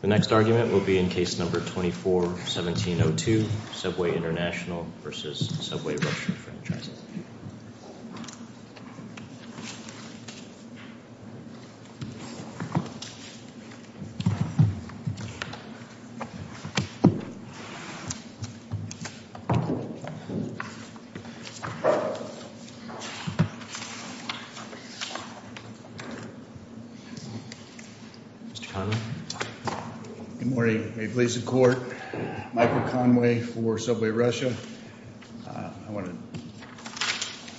The next argument will be in Case No. 24-1702, Subway International B.V. v. Subway Russia Franchising Company, LLC Subway International B.V. v. Subway Russia Franchising Company, LLC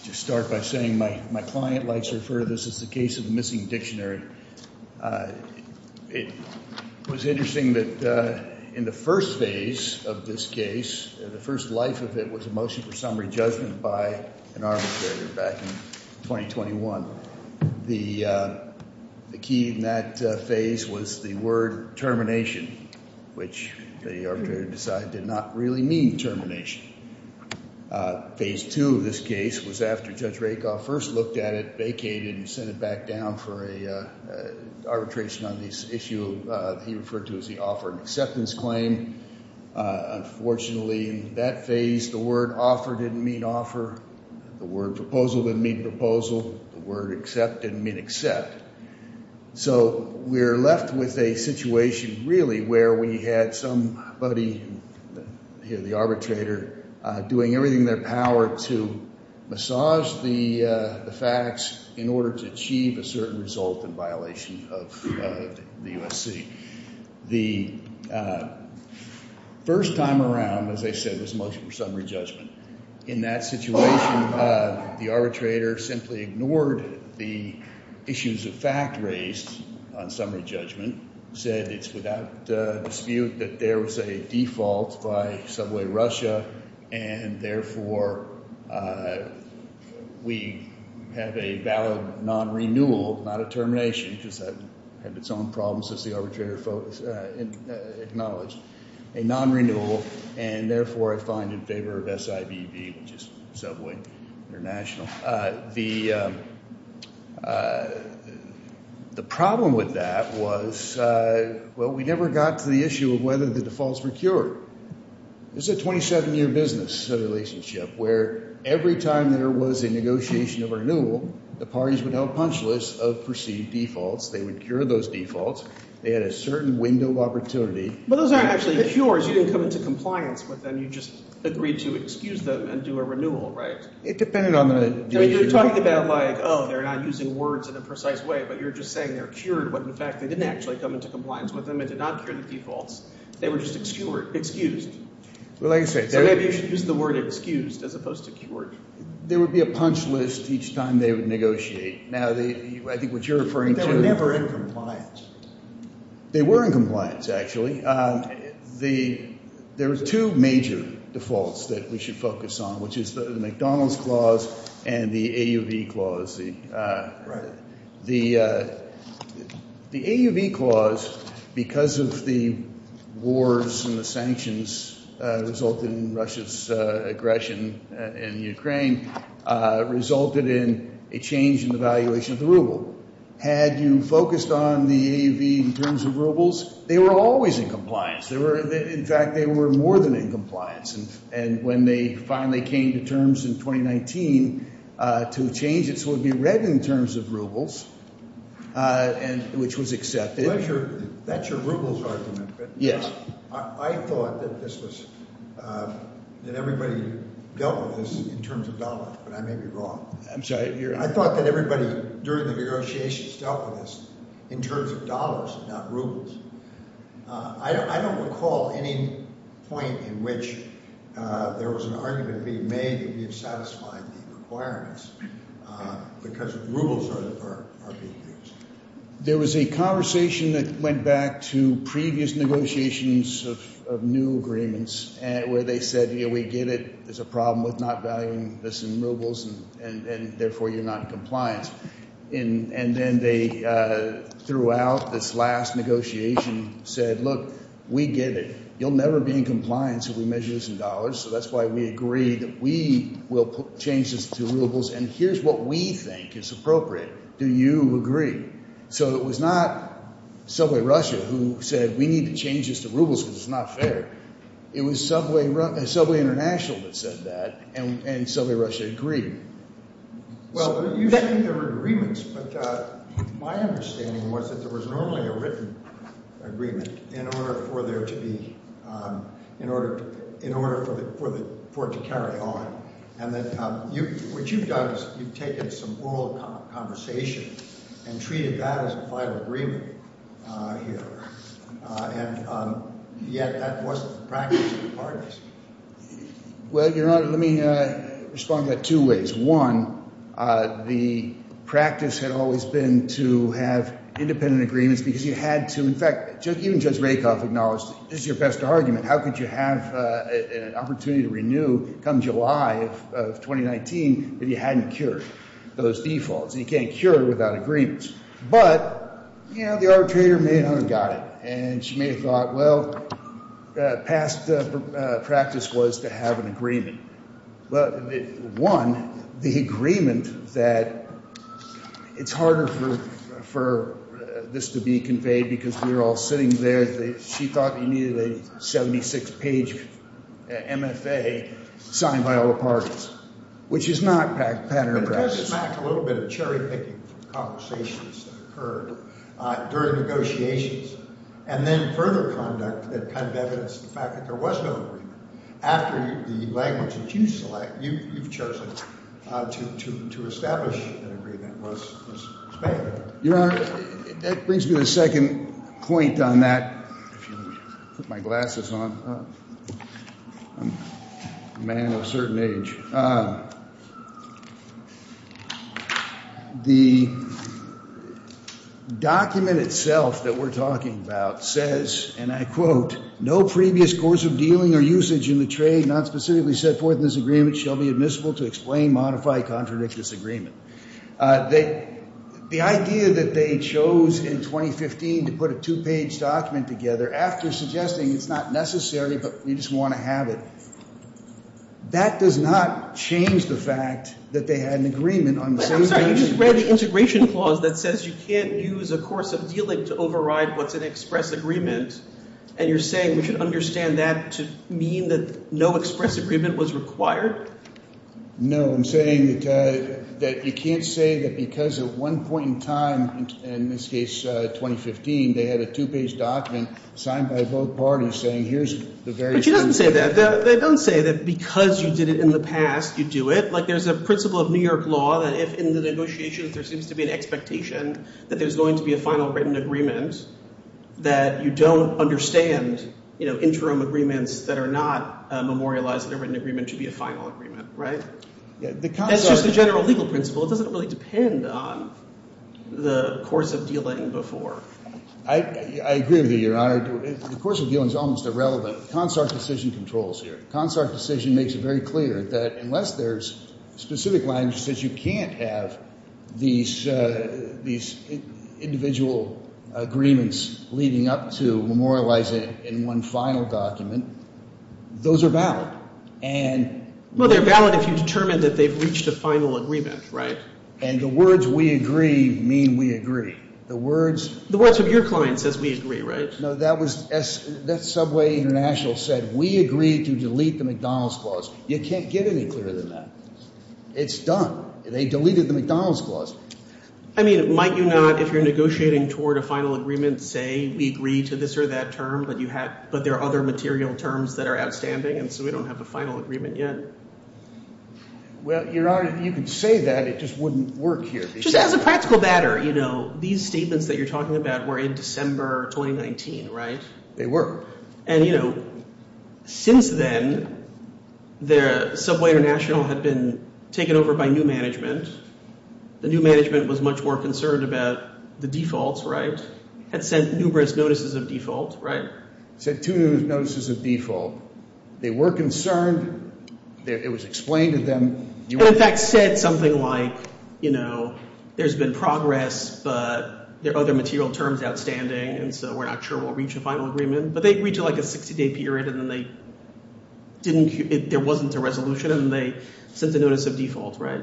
Just start by saying my client likes to refer to this as the case of the missing dictionary. It was interesting that in the first phase of this case, the first life of it was a motion for summary judgment by an arbitrator back in 2021. The key in that phase was the word termination, which the arbitrator decided did not really mean termination. Phase two of this case was after Judge Rakoff first looked at it, vacated, and sent it back down for an arbitration on this issue he referred to as the offer and acceptance claim. Unfortunately, in that phase, the word offer didn't mean offer. The word proposal didn't mean proposal. The word accept didn't mean accept. So we're left with a situation really where we had somebody, the arbitrator, doing everything in their power to massage the facts in order to achieve a certain result in violation of the USC. The first time around, as I said, this motion for summary judgment, in that situation, the arbitrator simply ignored the issues of fact raised on summary judgment, said it's without dispute that there was a default by Subway Russia, and therefore, we have a valid non-renewal, not a termination, because that had its own problems as the arbitrator acknowledged. A non-renewal, and therefore, I find in favor of SIBB, which is Subway International. The problem with that was, well, we never got to the issue of whether the defaults were cured. This is a 27-year business relationship where every time there was a negotiation of renewal, the parties would have a punch list of perceived defaults. They would cure those defaults. They had a certain window of opportunity. But those aren't actually cures. You didn't come into compliance with them. You just agreed to excuse them and do a renewal, right? It depended on the— I mean, you're talking about like, oh, they're not using words in a precise way, but you're just saying they're cured when, in fact, they didn't actually come into compliance with them and did not cure the defaults. They were just excused. Well, like I said— So maybe you should use the word excused as opposed to cured. There would be a punch list each time they would negotiate. Now, I think what you're referring to— They were never in compliance. They were in compliance, actually. There were two major defaults that we should focus on, which is the McDonald's Clause and the AUV Clause. The AUV Clause, because of the wars and the sanctions resulted in Russia's aggression in Ukraine, resulted in a change in the valuation of the ruble. Had you focused on the AUV in terms of rubles, they were always in compliance. In fact, they were more than in compliance. And when they finally came to terms in 2019 to change it so it would be read in terms of rubles, which was accepted— Well, that's your rubles argument, but— Yes. I thought that this was—that everybody dealt with this in terms of dollars, but I may be wrong. I'm sorry, you're— I thought that everybody during the negotiations dealt with this in terms of dollars and not rubles. I don't recall any point in which there was an argument being made to be satisfied with the requirements because rubles are being used. There was a conversation that went back to previous negotiations of new agreements where they said, you know, we get it, there's a problem with not valuing this in rubles and therefore you're not in compliance. And then they, throughout this last negotiation, said, look, we get it. You'll never be in compliance if we measure this in dollars, so that's why we agree that we will change this to rubles and here's what we think is appropriate. Do you agree? So it was not Subway Russia who said, we need to change this to rubles because it's not fair. It was Subway International that said that and Subway Russia agreed. Well, you say there were agreements, but my understanding was that there was normally a written agreement in order for there to be—in order for the—for it to carry on and that what you've done is you've taken some oral conversation and treated that as a final agreement here and yet that wasn't the practice of the parties. Well, Your Honor, let me respond to that two ways. One, the practice had always been to have independent agreements because you had to—in fact, even Judge Rakoff acknowledged this is your best argument—how could you have an opportunity to renew come July of 2019 if you hadn't cured those defaults and you can't cure it without agreements. But, you know, the arbitrator got it and she may have thought, well, past practice was to have an agreement. But, one, the agreement that it's harder for this to be conveyed because we're all sitting there. She thought you needed a 76-page MFA signed by all the parties, which is not pattern across. A little bit of cherry-picking conversations that occurred during negotiations and then further conduct that kind of evidenced the fact that there was no agreement after the language that you select—you've chosen to establish an agreement was Spanish. Your Honor, that brings me to the second point on that. If you put my glasses on, I'm a man of a certain age. The document itself that we're talking about says, and I quote, no previous course of dealing or usage in the trade not specifically set forth in this agreement shall be admissible to explain, modify, contradict this agreement. The idea that they chose in 2015 to put a two-page document together after suggesting it's not necessary but we just want to have it, that does not change the fact that they had an agreement on the same— I'm sorry, you just read the integration clause that says you can't use a course of dealing to override what's an express agreement, and you're saying we should understand that to mean that no express agreement was required? No, I'm saying that you can't say that because at one point in time, in this case 2015, they had a two-page document signed by both parties saying here's the very— But she doesn't say that. They don't say that because you did it in the past, you do it. Like there's a principle of New York law that if in the negotiation there seems to be an expectation that there's going to be a final written agreement, that you don't understand, you know, interim agreements that are not memorialized that a written agreement should be a final agreement, right? That's just the general legal principle. It doesn't really depend on the course of dealing before. I agree with you, Your Honor. The course of dealing is almost irrelevant. CONSARC decision controls here. CONSARC decision makes it very clear that unless there's specific language that says you can't have these individual agreements leading up to memorializing in one final document, those are valid. Well, they're valid if you determine that they've reached a final agreement, right? And the words we agree mean we agree. The words of your client says we agree, right? No, that Subway International said we agreed to delete the McDonald's clause. You can't get any clearer than that. It's done. They deleted the McDonald's clause. I mean, might you not, if you're negotiating toward a final agreement, say we agree to this or that term, but there are other material terms that are outstanding and so we don't have the final agreement yet. Well, Your Honor, if you could say that, it just wouldn't work here. Just as a practical matter, you know, these statements that you're talking about were in December 2019, right? They were. And, you know, since then, Subway International had been taken over by new management. The new management was much more concerned about the defaults, right? Had sent numerous notices of default, right? Sent two notices of default. They were concerned. It was explained to them. And, in fact, said something like, you know, there's been progress but there are other material terms outstanding and so we're not sure we'll reach a final agreement. But they reached like a 60-day period and then they didn't, there wasn't a resolution and they sent a notice of default, right?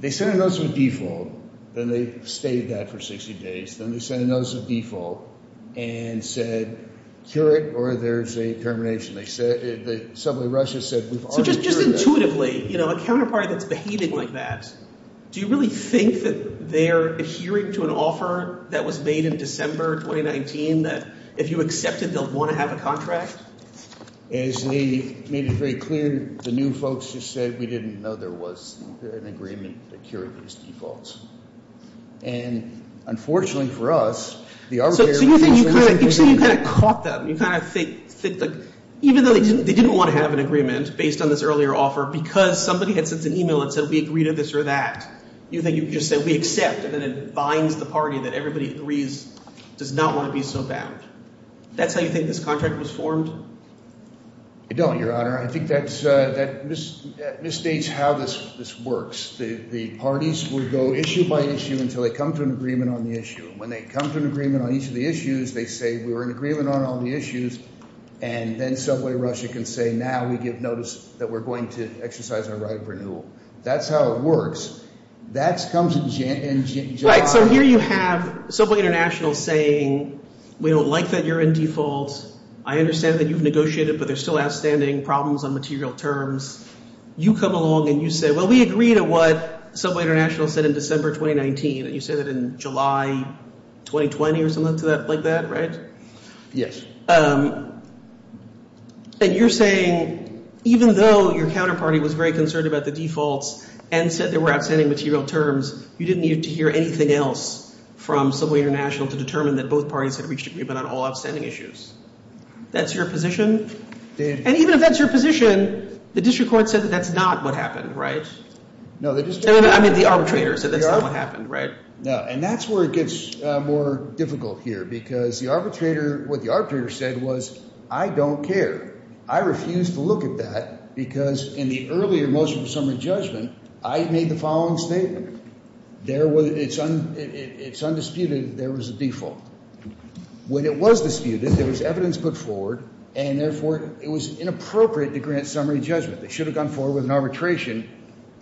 They sent a notice of default. Then they stayed that for 60 days. Then they sent a notice of default and said, cure it or there's a termination. They said, Subway Russia said, we've already cured that. So just intuitively, you know, a counterpart that's behaving like that, do you really think that they're adhering to an offer that was made in December 2019 that if you accept it, they'll want to have a contract? As they made it very clear, the new folks just said, we didn't know there was an agreement that cured these defaults. And, unfortunately for us, the arbitrator So you think you kind of caught them. You kind of think, like, even though they didn't want to have an agreement based on this earlier offer because somebody had sent an email and said, we agree to this or that. You think you just said, we accept, and then it binds the party that everybody agrees does not want to be so bound. That's how you think this contract was formed? I don't, Your Honor. I think that misstates how this works. The parties would go issue by issue until they come to an agreement on the issue. When they come to an agreement on each of the issues, they say, we were in agreement on all the issues. And then Subway Russia can say, now we give notice that we're going to exercise our right of renewal. That's how it works. That comes in January. Right. So here you have Subway International saying, we don't like that you're in default. I understand that you've negotiated, but there's still outstanding problems on material terms. You come along and you say, well, we agree to what Subway International said in December 2019. You said that in July 2020 or something like that, right? Yes. And you're saying, even though your counterparty was very concerned about the defaults and said there were outstanding material terms, you didn't need to hear anything else from Subway International to determine that both parties had reached agreement on all outstanding issues. That's your position? And even if that's your position, the district court said that that's not what happened, right? No. I mean, the arbitrator said that's not what happened, right? No. And that's where it gets more difficult here because the arbitrator, what the arbitrator said was, I don't care. I refuse to look at that because in the earlier motion of summary judgment, I made the following statement. It's undisputed that there was a default. When it was disputed, there was evidence put forward, and therefore, it was inappropriate to grant summary judgment. They should have gone forward with an arbitration.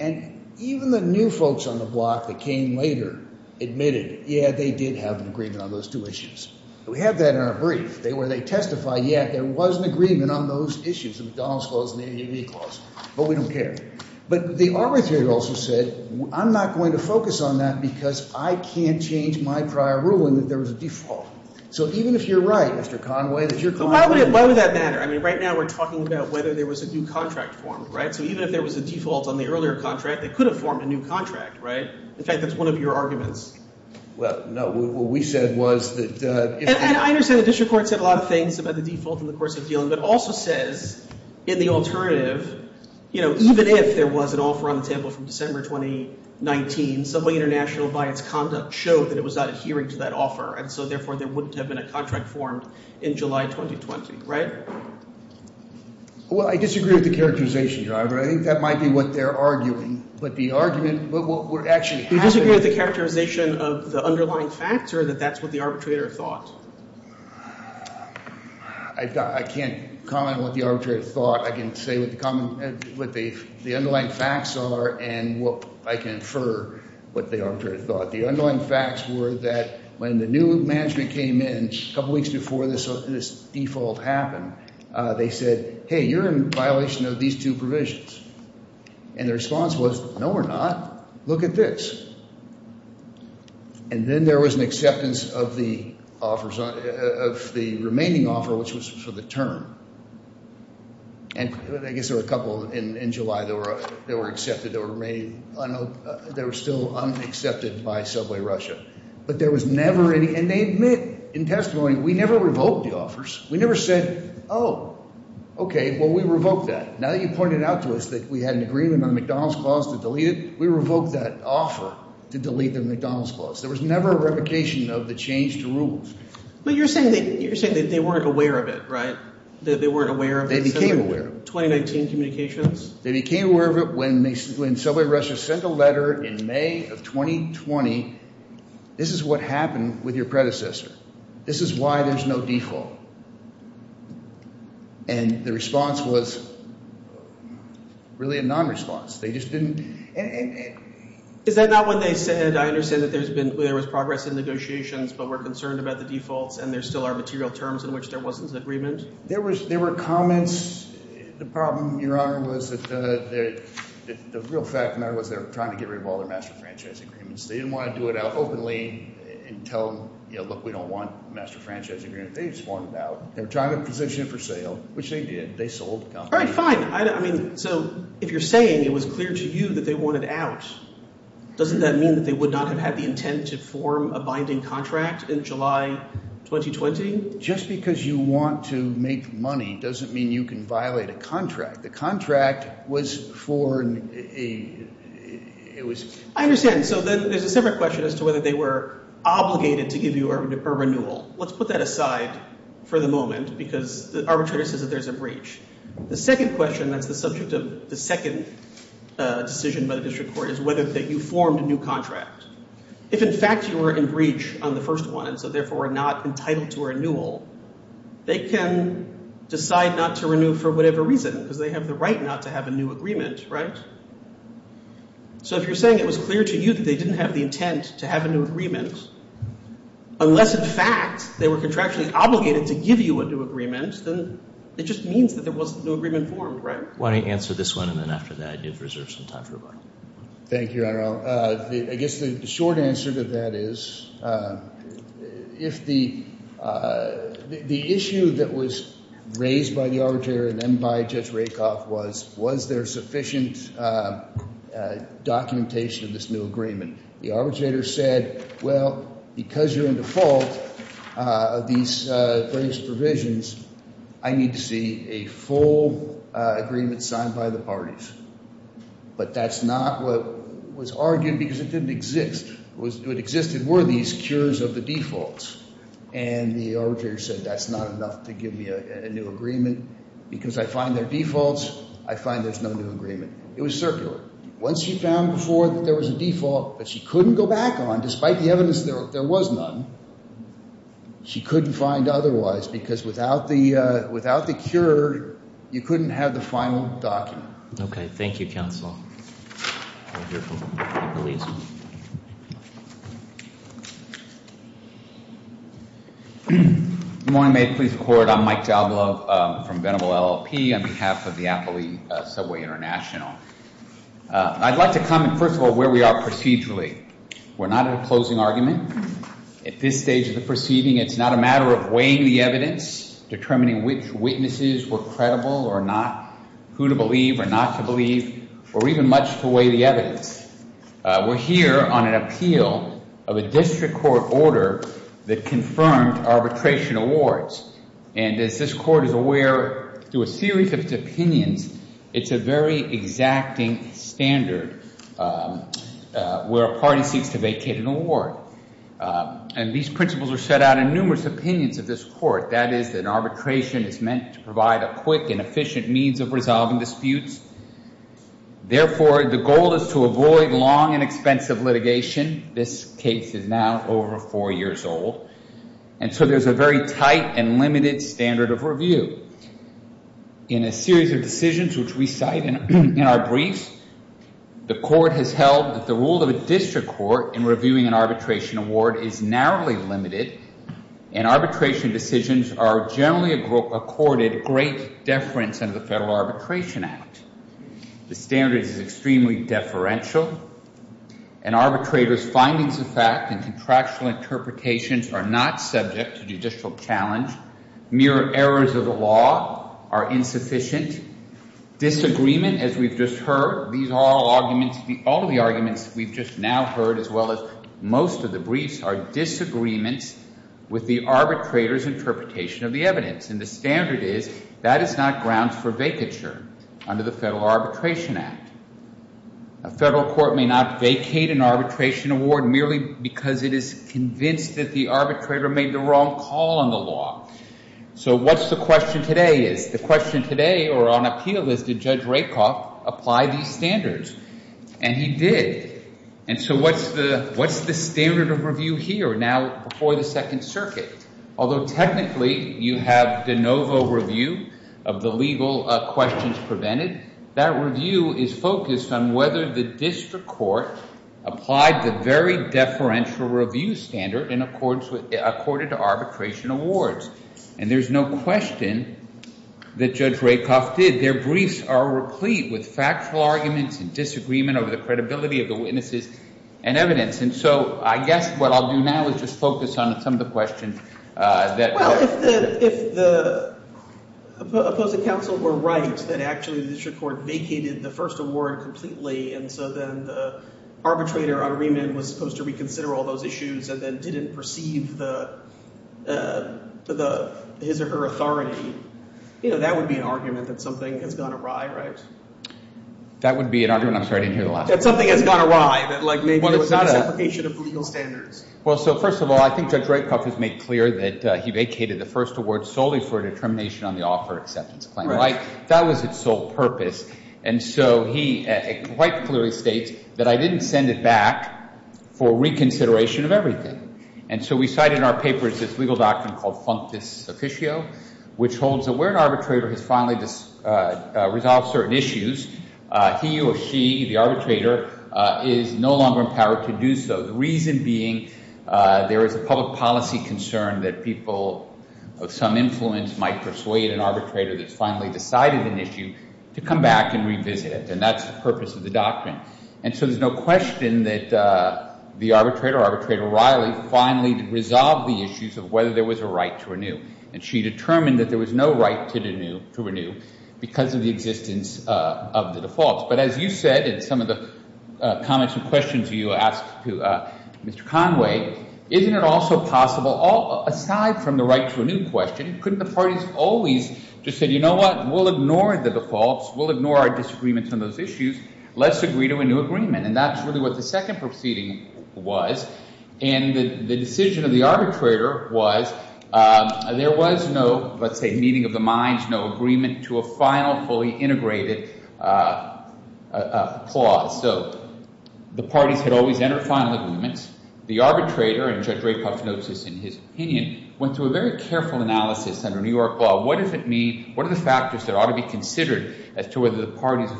And even the new folks on the block that came later admitted, yeah, they did have an agreement on those two issues. We have that in our brief. They testified, yeah, there was an agreement on those issues, the McDonald's clause and the NEV clause, but we don't care. But the arbitrator also said, I'm not going to focus on that because I can't change my prior ruling that there was a default. So even if you're right, Mr. Conway, that you're confident. Why would that matter? I mean, right now, we're talking about whether there was a new contract formed, right? So even if there was a default on the earlier contract, they could have formed a new contract, right? In fact, that's one of your arguments. Well, no. What we said was that... And I understand the district court said a lot of things about the default in the course of dealing, but also says in the alternative, you know, even if there was an offer on the table from December 2019, Subway International by its conduct showed that it was not adhering to that offer. And so therefore, there wouldn't have been a contract formed in July 2020, right? Well, I disagree with the characterization, Your Honor. I think that might be what they're arguing. But the argument, but what actually happened... You disagree with the characterization of the underlying facts or that that's what the arbitrator thought? I can't comment on what the arbitrator thought. I can say what the the underlying facts are and what I can infer what the arbitrator thought. The underlying facts were that when the new management came in a couple weeks before this default happened, they said, hey, you're in violation of these two provisions. And the response was, no, we're not. Look at this. And then there was an acceptance of the remaining offer, which was for the term. And I guess there were a couple in July that were accepted, that were remaining, they were still unaccepted by Subway Russia. But there was never any... And they admit, in testimony, we never revoked the offers. We never said, oh, okay, well, we revoked that. Now that you pointed out to us that we had an agreement on the McDonald's clause to delete it, we revoked that offer to delete the McDonald's clause. There was never a revocation of the changed rules. But you're saying that you're saying that they weren't aware of it, right? That they weren't aware of it? They became aware of it. 2019 communications? They became aware of it when Subway Russia sent a letter in May of 2020. This is what happened with your predecessor. This is why there's no default. And the response was really a non-response. They just didn't... Is that not when they said, I understand that there was progress in negotiations, but we're concerned about the defaults, and there still are material terms in which there There were comments. The problem, Your Honor, was that the real fact of the matter was they were trying to get rid of all their master franchise agreements. They didn't want to do it out openly and tell them, look, we don't want a master franchise agreement. They just wanted it out. They were trying to position it for sale, which they did. They sold the company. All right, fine. So if you're saying it was clear to you that they wanted out, doesn't that mean that they would not have had the intent to form a binding contract in July 2020? Just because you want to make money doesn't mean you can violate a contract. The contract was for... I understand. So then there's a separate question as to whether they were obligated to give you a renewal. Let's put that aside for the moment because the arbitrator says that there's a breach. The second question that's the subject of the second decision by the district court is whether that you formed a new contract. If in fact you were in breach on the first one, so therefore not entitled to a renewal, they can decide not to renew for whatever reason because they have the right not to have a new agreement, right? So if you're saying it was clear to you that they didn't have the intent to have a new agreement, unless in fact they were contractually obligated to give you a new agreement, then it just means that there was no agreement formed, right? Why don't you answer this one and then after that you have reserved some time for rebuttal. Thank you, Your Honor. I guess the short answer to that is if the issue that was raised by the arbitrator and then by Judge Rakoff was, was there sufficient documentation of this new agreement? The arbitrator said, well, because you're in default of these breached provisions, I need to see a full agreement signed by the parties. But that's not what was argued because it didn't exist. What existed were these cures of the defaults and the arbitrator said that's not enough to give me a new agreement because I find their defaults, I find there's no new agreement. It was circular. Once she found before that there was a default that she couldn't go back on, despite the evidence that there was none, she couldn't find otherwise because without the, without the cure, you couldn't have the final document. Okay. Thank you, counsel. Good morning. May it please the court. I'm Mike Diablo from Venable LLP on behalf of the Appley Subway International. I'd like to comment, first of all, where we are procedurally. We're not at a closing argument. At this stage of the proceeding, it's not a matter of weighing the evidence, determining which witnesses were credible or not, who to believe or not to believe, or even much to weigh the evidence. We're here on an appeal of a district court order that confirmed arbitration awards. And as this court is aware, through a series of its opinions, it's a very exacting standard where a party seeks to vacate an award. And these principles are set out in numerous opinions of this court. That is that arbitration is meant to provide a quick and efficient means of resolving disputes. Therefore, the goal is to avoid long and expensive litigation. This case is now over four years old. And so there's a very tight and limited standard of review. In a series of decisions which we cite in our briefs, the court has held that the role of a district court in reviewing an arbitration award is narrowly limited. And arbitration decisions are generally accorded great deference under the Federal Arbitration Act. The standard is extremely deferential. An arbitrator's findings of fact and contractual interpretations are not subject to are insufficient. Disagreement, as we've just heard, these are all arguments, all the arguments we've just now heard, as well as most of the briefs, are disagreements with the arbitrator's interpretation of the evidence. And the standard is that is not grounds for vacature under the Federal Arbitration Act. A federal court may not vacate an arbitration award merely because it is convinced that the arbitrator made the wrong call on the law. So what's the question today is? The question today, or on appeal, is did Judge Rakoff apply these standards? And he did. And so what's the standard of review here now before the Second Circuit? Although technically, you have de novo review of the legal questions prevented, that review is focused on whether the district court applied the very deferential review standard in accordance with accorded to arbitration awards. And there's no question that Judge Rakoff did. Their briefs are replete with factual arguments and disagreement over the credibility of the witnesses and evidence. And so I guess what I'll do now is just focus on some of the questions. Well, if the opposing counsel were right, that actually the district court vacated the first award completely, and so then the arbitrator on remand was supposed to reconsider all those issues, and then didn't perceive the his or her authority, you know, that would be an argument that something has gone awry, right? That would be an argument? I'm sorry, I didn't hear the last part. That something has gone awry, that like maybe there was a separation of legal standards. Well, so first of all, I think Judge Rakoff has made clear that he vacated the first award solely for determination on the offer acceptance claim, right? That was its sole purpose. And so he quite clearly states that I didn't send it back for reconsideration of everything. And so we cited in our papers this legal doctrine called functus officio, which holds that where an arbitrator has finally resolved certain issues, he or she, the arbitrator, is no longer empowered to do so. The reason being there is a public concern that people of some influence might persuade an arbitrator that's finally decided an issue to come back and revisit it, and that's the purpose of the doctrine. And so there's no question that the arbitrator, Arbitrator Riley, finally resolved the issues of whether there was a right to renew, and she determined that there was no right to renew because of the existence of the defaults. But as you said in some of the comments and questions you asked to Mr. Conway, isn't it also possible, aside from the right to a new question, couldn't the parties always just say, you know what? We'll ignore the defaults. We'll ignore our disagreements on those issues. Let's agree to a new agreement. And that's really what the second proceeding was. And the decision of the arbitrator was there was no, let's say, meeting of the minds, no agreement to a final, integrated clause. So the parties had always entered final agreements. The arbitrator, and Judge Rapoff notes this in his opinion, went through a very careful analysis under New York law. What does it mean? What are the factors that ought to be considered as to whether the parties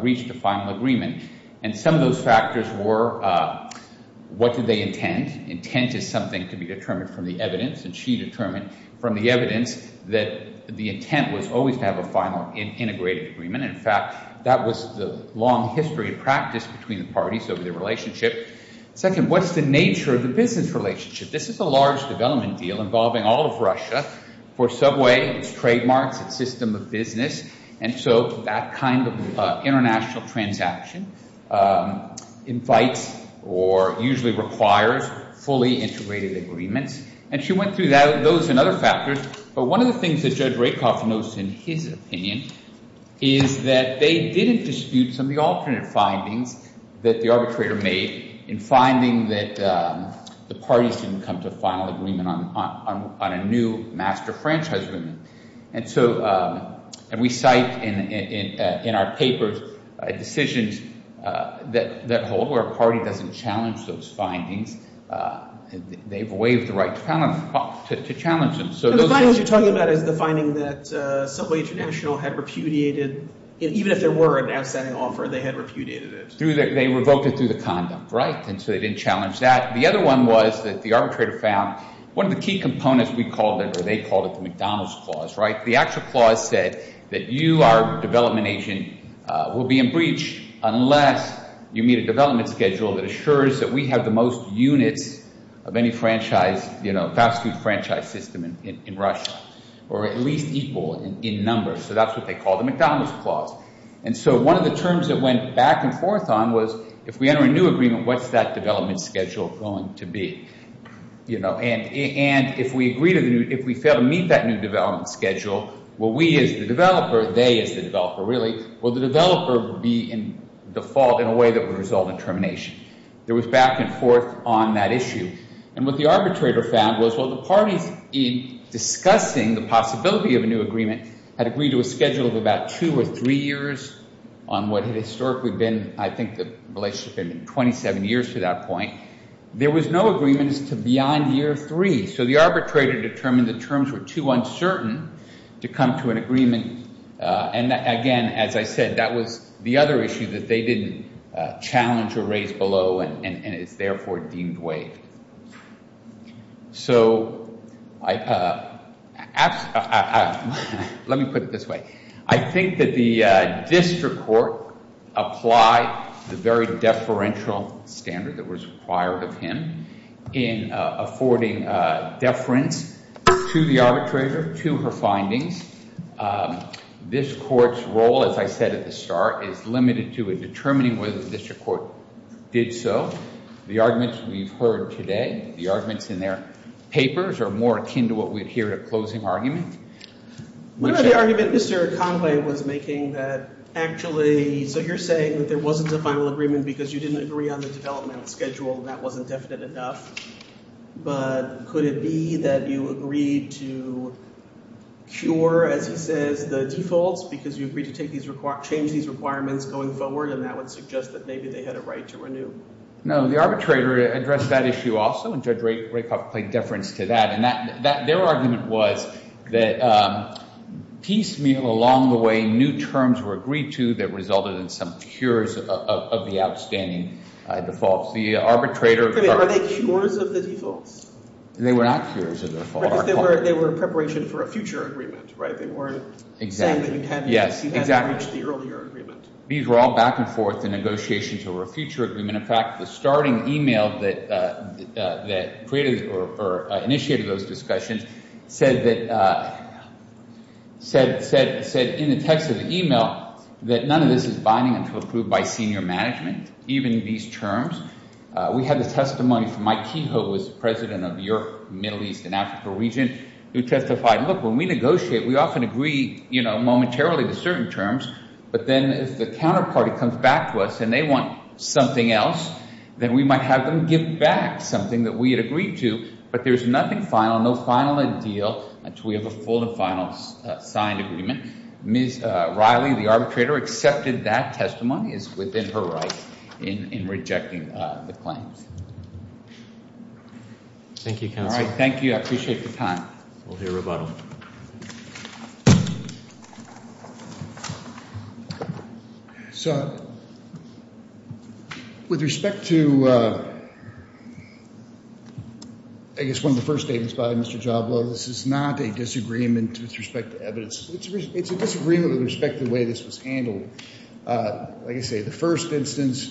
reached a final agreement? And some of those factors were what did they intend? Intent is something to be determined from the evidence, and she determined from the evidence that the intent was always to have a final integrated agreement. In fact, that was the long history of practice between the parties over their relationship. Second, what's the nature of the business relationship? This is a large development deal involving all of Russia for subway, its trademarks, its system of business. And so that kind of international transaction invites or usually requires fully integrated agreements. And she went through those and other factors. But one of the things that Judge Rapoff notes in his opinion is that they didn't dispute some of the alternate findings that the arbitrator made in finding that the parties didn't come to a final agreement on a new master franchise agreement. And so, and we cite in our papers decisions that hold where a party doesn't challenge those findings. They've waived the right to challenge them. So the findings you're talking about is the finding that Subway International had repudiated, even if there were an outstanding offer, they had repudiated it. Through the, they revoked it through the conduct, right? And so they didn't challenge that. The other one was that the arbitrator found one of the key components we called it, or they called it, the McDonald's clause, right? The actual clause said that you, our development agent, will be in breach unless you meet a development schedule that assures that we have the most units of any fast food franchise system in Russia, or at least equal in numbers. So that's what they call the McDonald's clause. And so one of the terms that went back and forth on was, if we enter a new agreement, what's that development schedule going to be? And if we agree to the new, if we fail to meet that new development schedule, will we as the developer, they as the developer really, will the developer be in default in a termination? There was back and forth on that issue. And what the arbitrator found was, well, the parties in discussing the possibility of a new agreement had agreed to a schedule of about two or three years on what had historically been, I think the relationship had been 27 years to that point. There was no agreements to beyond year three. So the arbitrator determined the terms were too uncertain to come to an agreement. And again, as I said, that was the other issue that they didn't challenge or raise below and it's therefore deemed way. So let me put it this way. I think that the district court applied the very deferential standard that was required of him in affording deference to the arbitrator, to her findings. This court's role, as I said at the beginning, was determining whether the district court did so. The arguments we've heard today, the arguments in their papers are more akin to what we'd hear at a closing argument. One of the arguments Mr. Conway was making that actually, so you're saying that there wasn't a final agreement because you didn't agree on the developmental schedule and that wasn't definite enough. But could it be that you agreed to cure, as he says, the defaults because you agreed to and that would suggest that maybe they had a right to renew? No, the arbitrator addressed that issue also and Judge Rakoff played deference to that. And that, their argument was that piecemeal along the way, new terms were agreed to that resulted in some cures of the outstanding defaults. The arbitrator- Are they cures of the defaults? They were not cures of the defaults. They were in preparation for a future agreement, right? They weren't saying that you hadn't reached the earlier agreement. These were all back and forth in negotiations over a future agreement. In fact, the starting email that created or initiated those discussions said that, said in the text of the email, that none of this is binding until approved by senior management, even these terms. We had the testimony from Mike Kehoe, who was president of York, Middle East and Africa region, who testified, look, when we negotiate, we often agree, you know, momentarily to certain terms, but then if the counterparty comes back to us and they want something else, then we might have them give back something that we had agreed to, but there's nothing final, no final and deal until we have a full and final signed agreement. Ms. Riley, the arbitrator, accepted that testimony is within her rights in rejecting the claims. Thank you, counsel. All right. Thank you. I appreciate the time. We'll hear about them. So with respect to, I guess, one of the first statements by Mr. Jablow, this is not a disagreement with respect to evidence. It's a disagreement with respect to the way this was handled. Like I say, the first instance,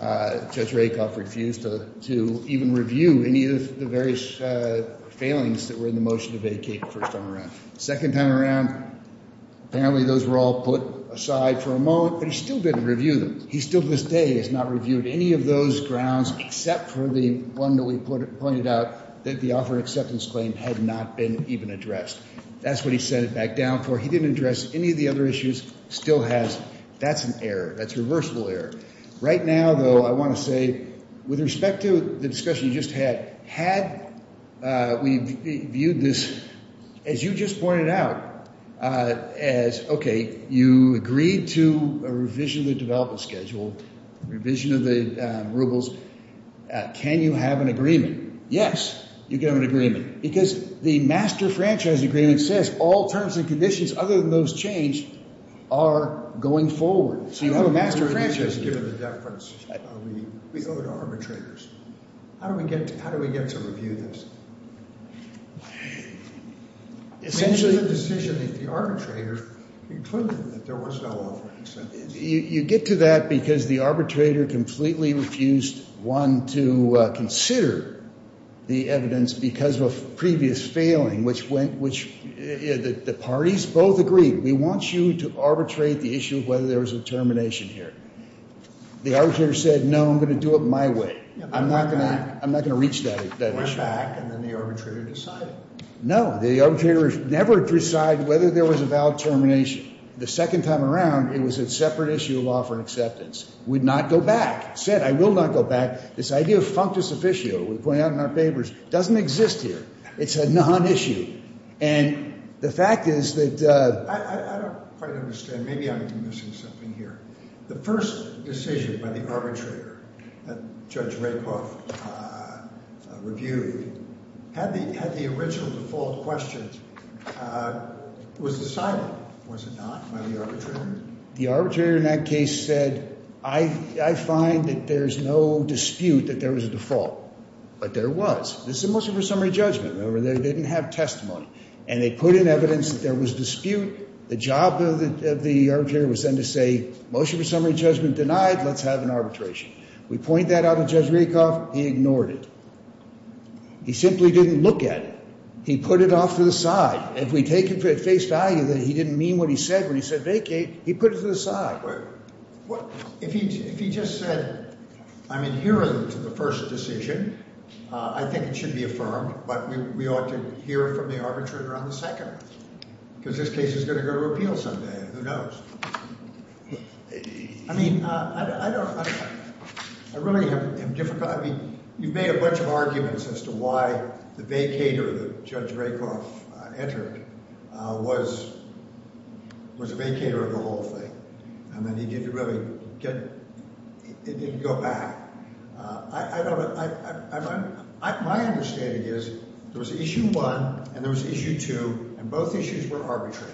Judge Rakoff refused to even review any of the various failings that were in the motion to vacate the first time around. Second time around, apparently those were all put aside for a moment, but he still didn't review them. He still to this day has not reviewed any of those grounds except for the one that we pointed out, that the offer acceptance claim had not been even addressed. That's what he sent it back down for. He didn't address any of the other issues, still has. That's an error. That's a reversible error. Right now, though, I want to say, with respect to the discussion you just had, had we viewed this as you just pointed out, as, okay, you agreed to a revision of the development schedule, revision of the rubles, can you have an agreement? Yes, you can have an agreement. Because the master franchise agreement says all terms and conditions other than those changed are going forward. So you have a master franchise agreement. How do we get to review this? Essentially, you get to that because the arbitrator completely refused, one, to consider the evidence because of a previous failing, which the parties both agreed, we want you to arbitrate the issue of whether there was a termination here. The arbitrator said, no, I'm going to do it my way. I'm not going to reach that issue. Went back and then the arbitrator decided. No, the arbitrator never decided whether there was a valid termination. The second time around, it was a separate issue of offer acceptance. Would not go back. Said, I will not go back. This idea of functus officio, we point out in our papers, doesn't exist here. It's a non-issue. And the fact is that... I don't quite understand. Maybe I'm missing something here. The first decision by the arbitrator that Judge Raicoff reviewed had the original default questions. Was decided, was it not, by the arbitrator? The arbitrator in that case said, I find that there's no dispute that there was a default. But there was. This is a motion for summary judgment. Remember, they didn't have testimony. And they put in evidence that there was dispute. The job of the arbitrator was then to say, motion for summary judgment denied. Let's have an arbitration. We point that out to Judge Raicoff. He ignored it. He simply didn't look at it. He put it off to the side. If we take it for at face value that he didn't mean what he said when he said vacate, he put it to the side. If he just said, I'm adherent to the first decision, I think it should be affirmed. But we ought to hear from the arbitrator on the second. Because this case is going to go to appeal someday. Who knows? I mean, I don't, I really am difficult. I mean, you've made a bunch of arguments as to why the vacater that Judge Raicoff entered was a vacater of the whole thing. And then he didn't really get, it didn't go back. I don't, my understanding is there was issue one and there was issue two, and both issues were arbitrary.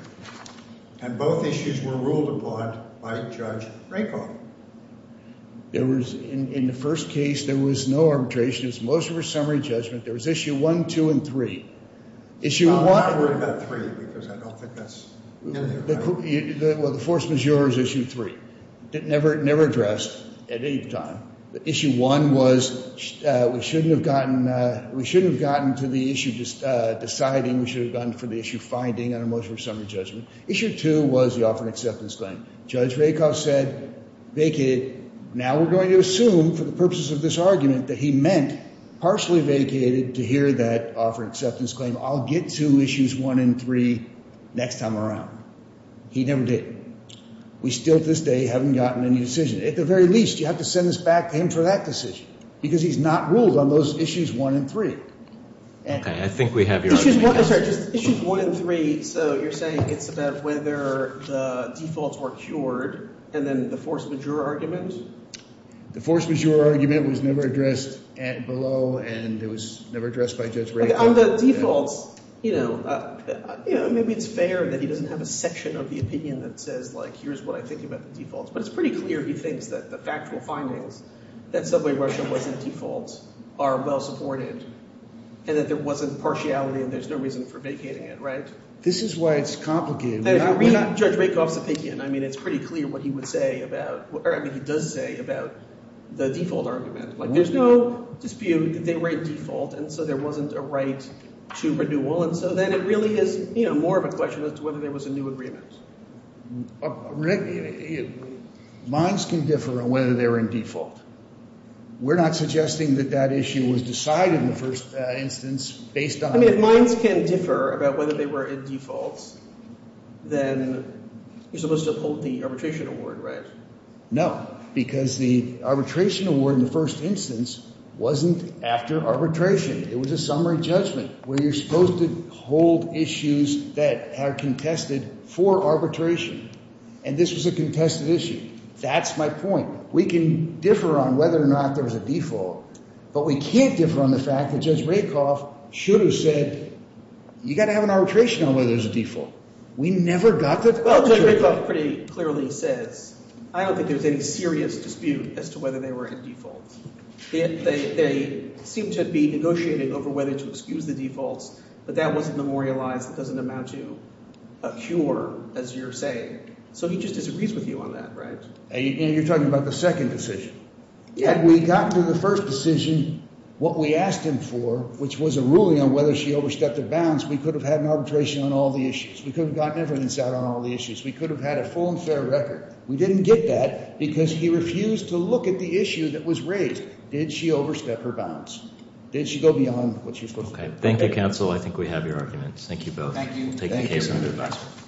And both issues were ruled upon by Judge Raicoff. There was, in the first case, there was no arbitration. It was motion for summary judgment. There was issue one, two, and three. Issue one. I'm not worried about three because I don't think that's. Well, the force majeure is issue three. It never, never addressed at any time. Issue one was we shouldn't have gotten, we shouldn't have gotten to the issue deciding we should have gone for the issue finding under motion for summary judgment. Issue two was the offer and acceptance claim. Judge Raicoff said vacated. Now we're going to assume for the purposes of this argument that he meant partially vacated to hear that offer acceptance claim. I'll get to issues one and three next time around. He never did. We still, to this day, haven't gotten any decision. At the very least, you have to send this back to him for that decision because he's not ruled on those issues one and three. Okay, I think we have your argument. Issues one and three, so you're saying it's about whether the defaults were cured and then the force majeure argument? The force majeure argument was never addressed below and it was never addressed by Judge Raicoff. On the defaults, you know, maybe it's fair that he doesn't have a section of the opinion that says like here's what I think about the defaults, but it's pretty clear he thinks that the factual findings that subway rush wasn't default are well supported and that there wasn't partiality and there's no reason for vacating it, right? This is why it's complicated. If you read Judge Raicoff's opinion, I mean it's pretty clear what he would say about, or I mean he does say about the default argument. Like there's no dispute that they were in default and so there wasn't a right to renewal and so then it really is, you know, more of a question as to whether there was a new agreement. Minds can differ on whether they're in default. We're not suggesting that that issue was decided in the first instance based on... I mean if minds can differ about whether they were in defaults, then you're supposed to uphold the arbitration award, right? No, because the arbitration award in the first instance wasn't after arbitration. It was a summary judgment where you're supposed to hold issues that are contested for arbitration and this was a contested issue. That's my point. We can differ on whether or not there was a default, but we can't differ on the fact that Judge Raicoff should have said, you got to have an arbitration on whether there's a default. We never got that. Judge Raicoff pretty clearly says, I don't think there's any serious dispute as to whether they were in default. They seem to be negotiating over whether to excuse the defaults, but that wasn't memorialized. It doesn't amount to a cure, as you're saying. So he just disagrees with you on that, right? And you're talking about the second decision. Had we gotten to the first decision, what we asked him for, which was a ruling on whether she overstepped her bounds, we could have had an arbitration on all the issues. We could have gotten evidence out on all the issues. We could have had a full and fair record. We didn't get that because he refused to look at the issue that was raised. Did she overstep her bounds? Did she go beyond what she was supposed to? Okay. Thank you, counsel. I think we have your arguments. Thank you both. Thank you.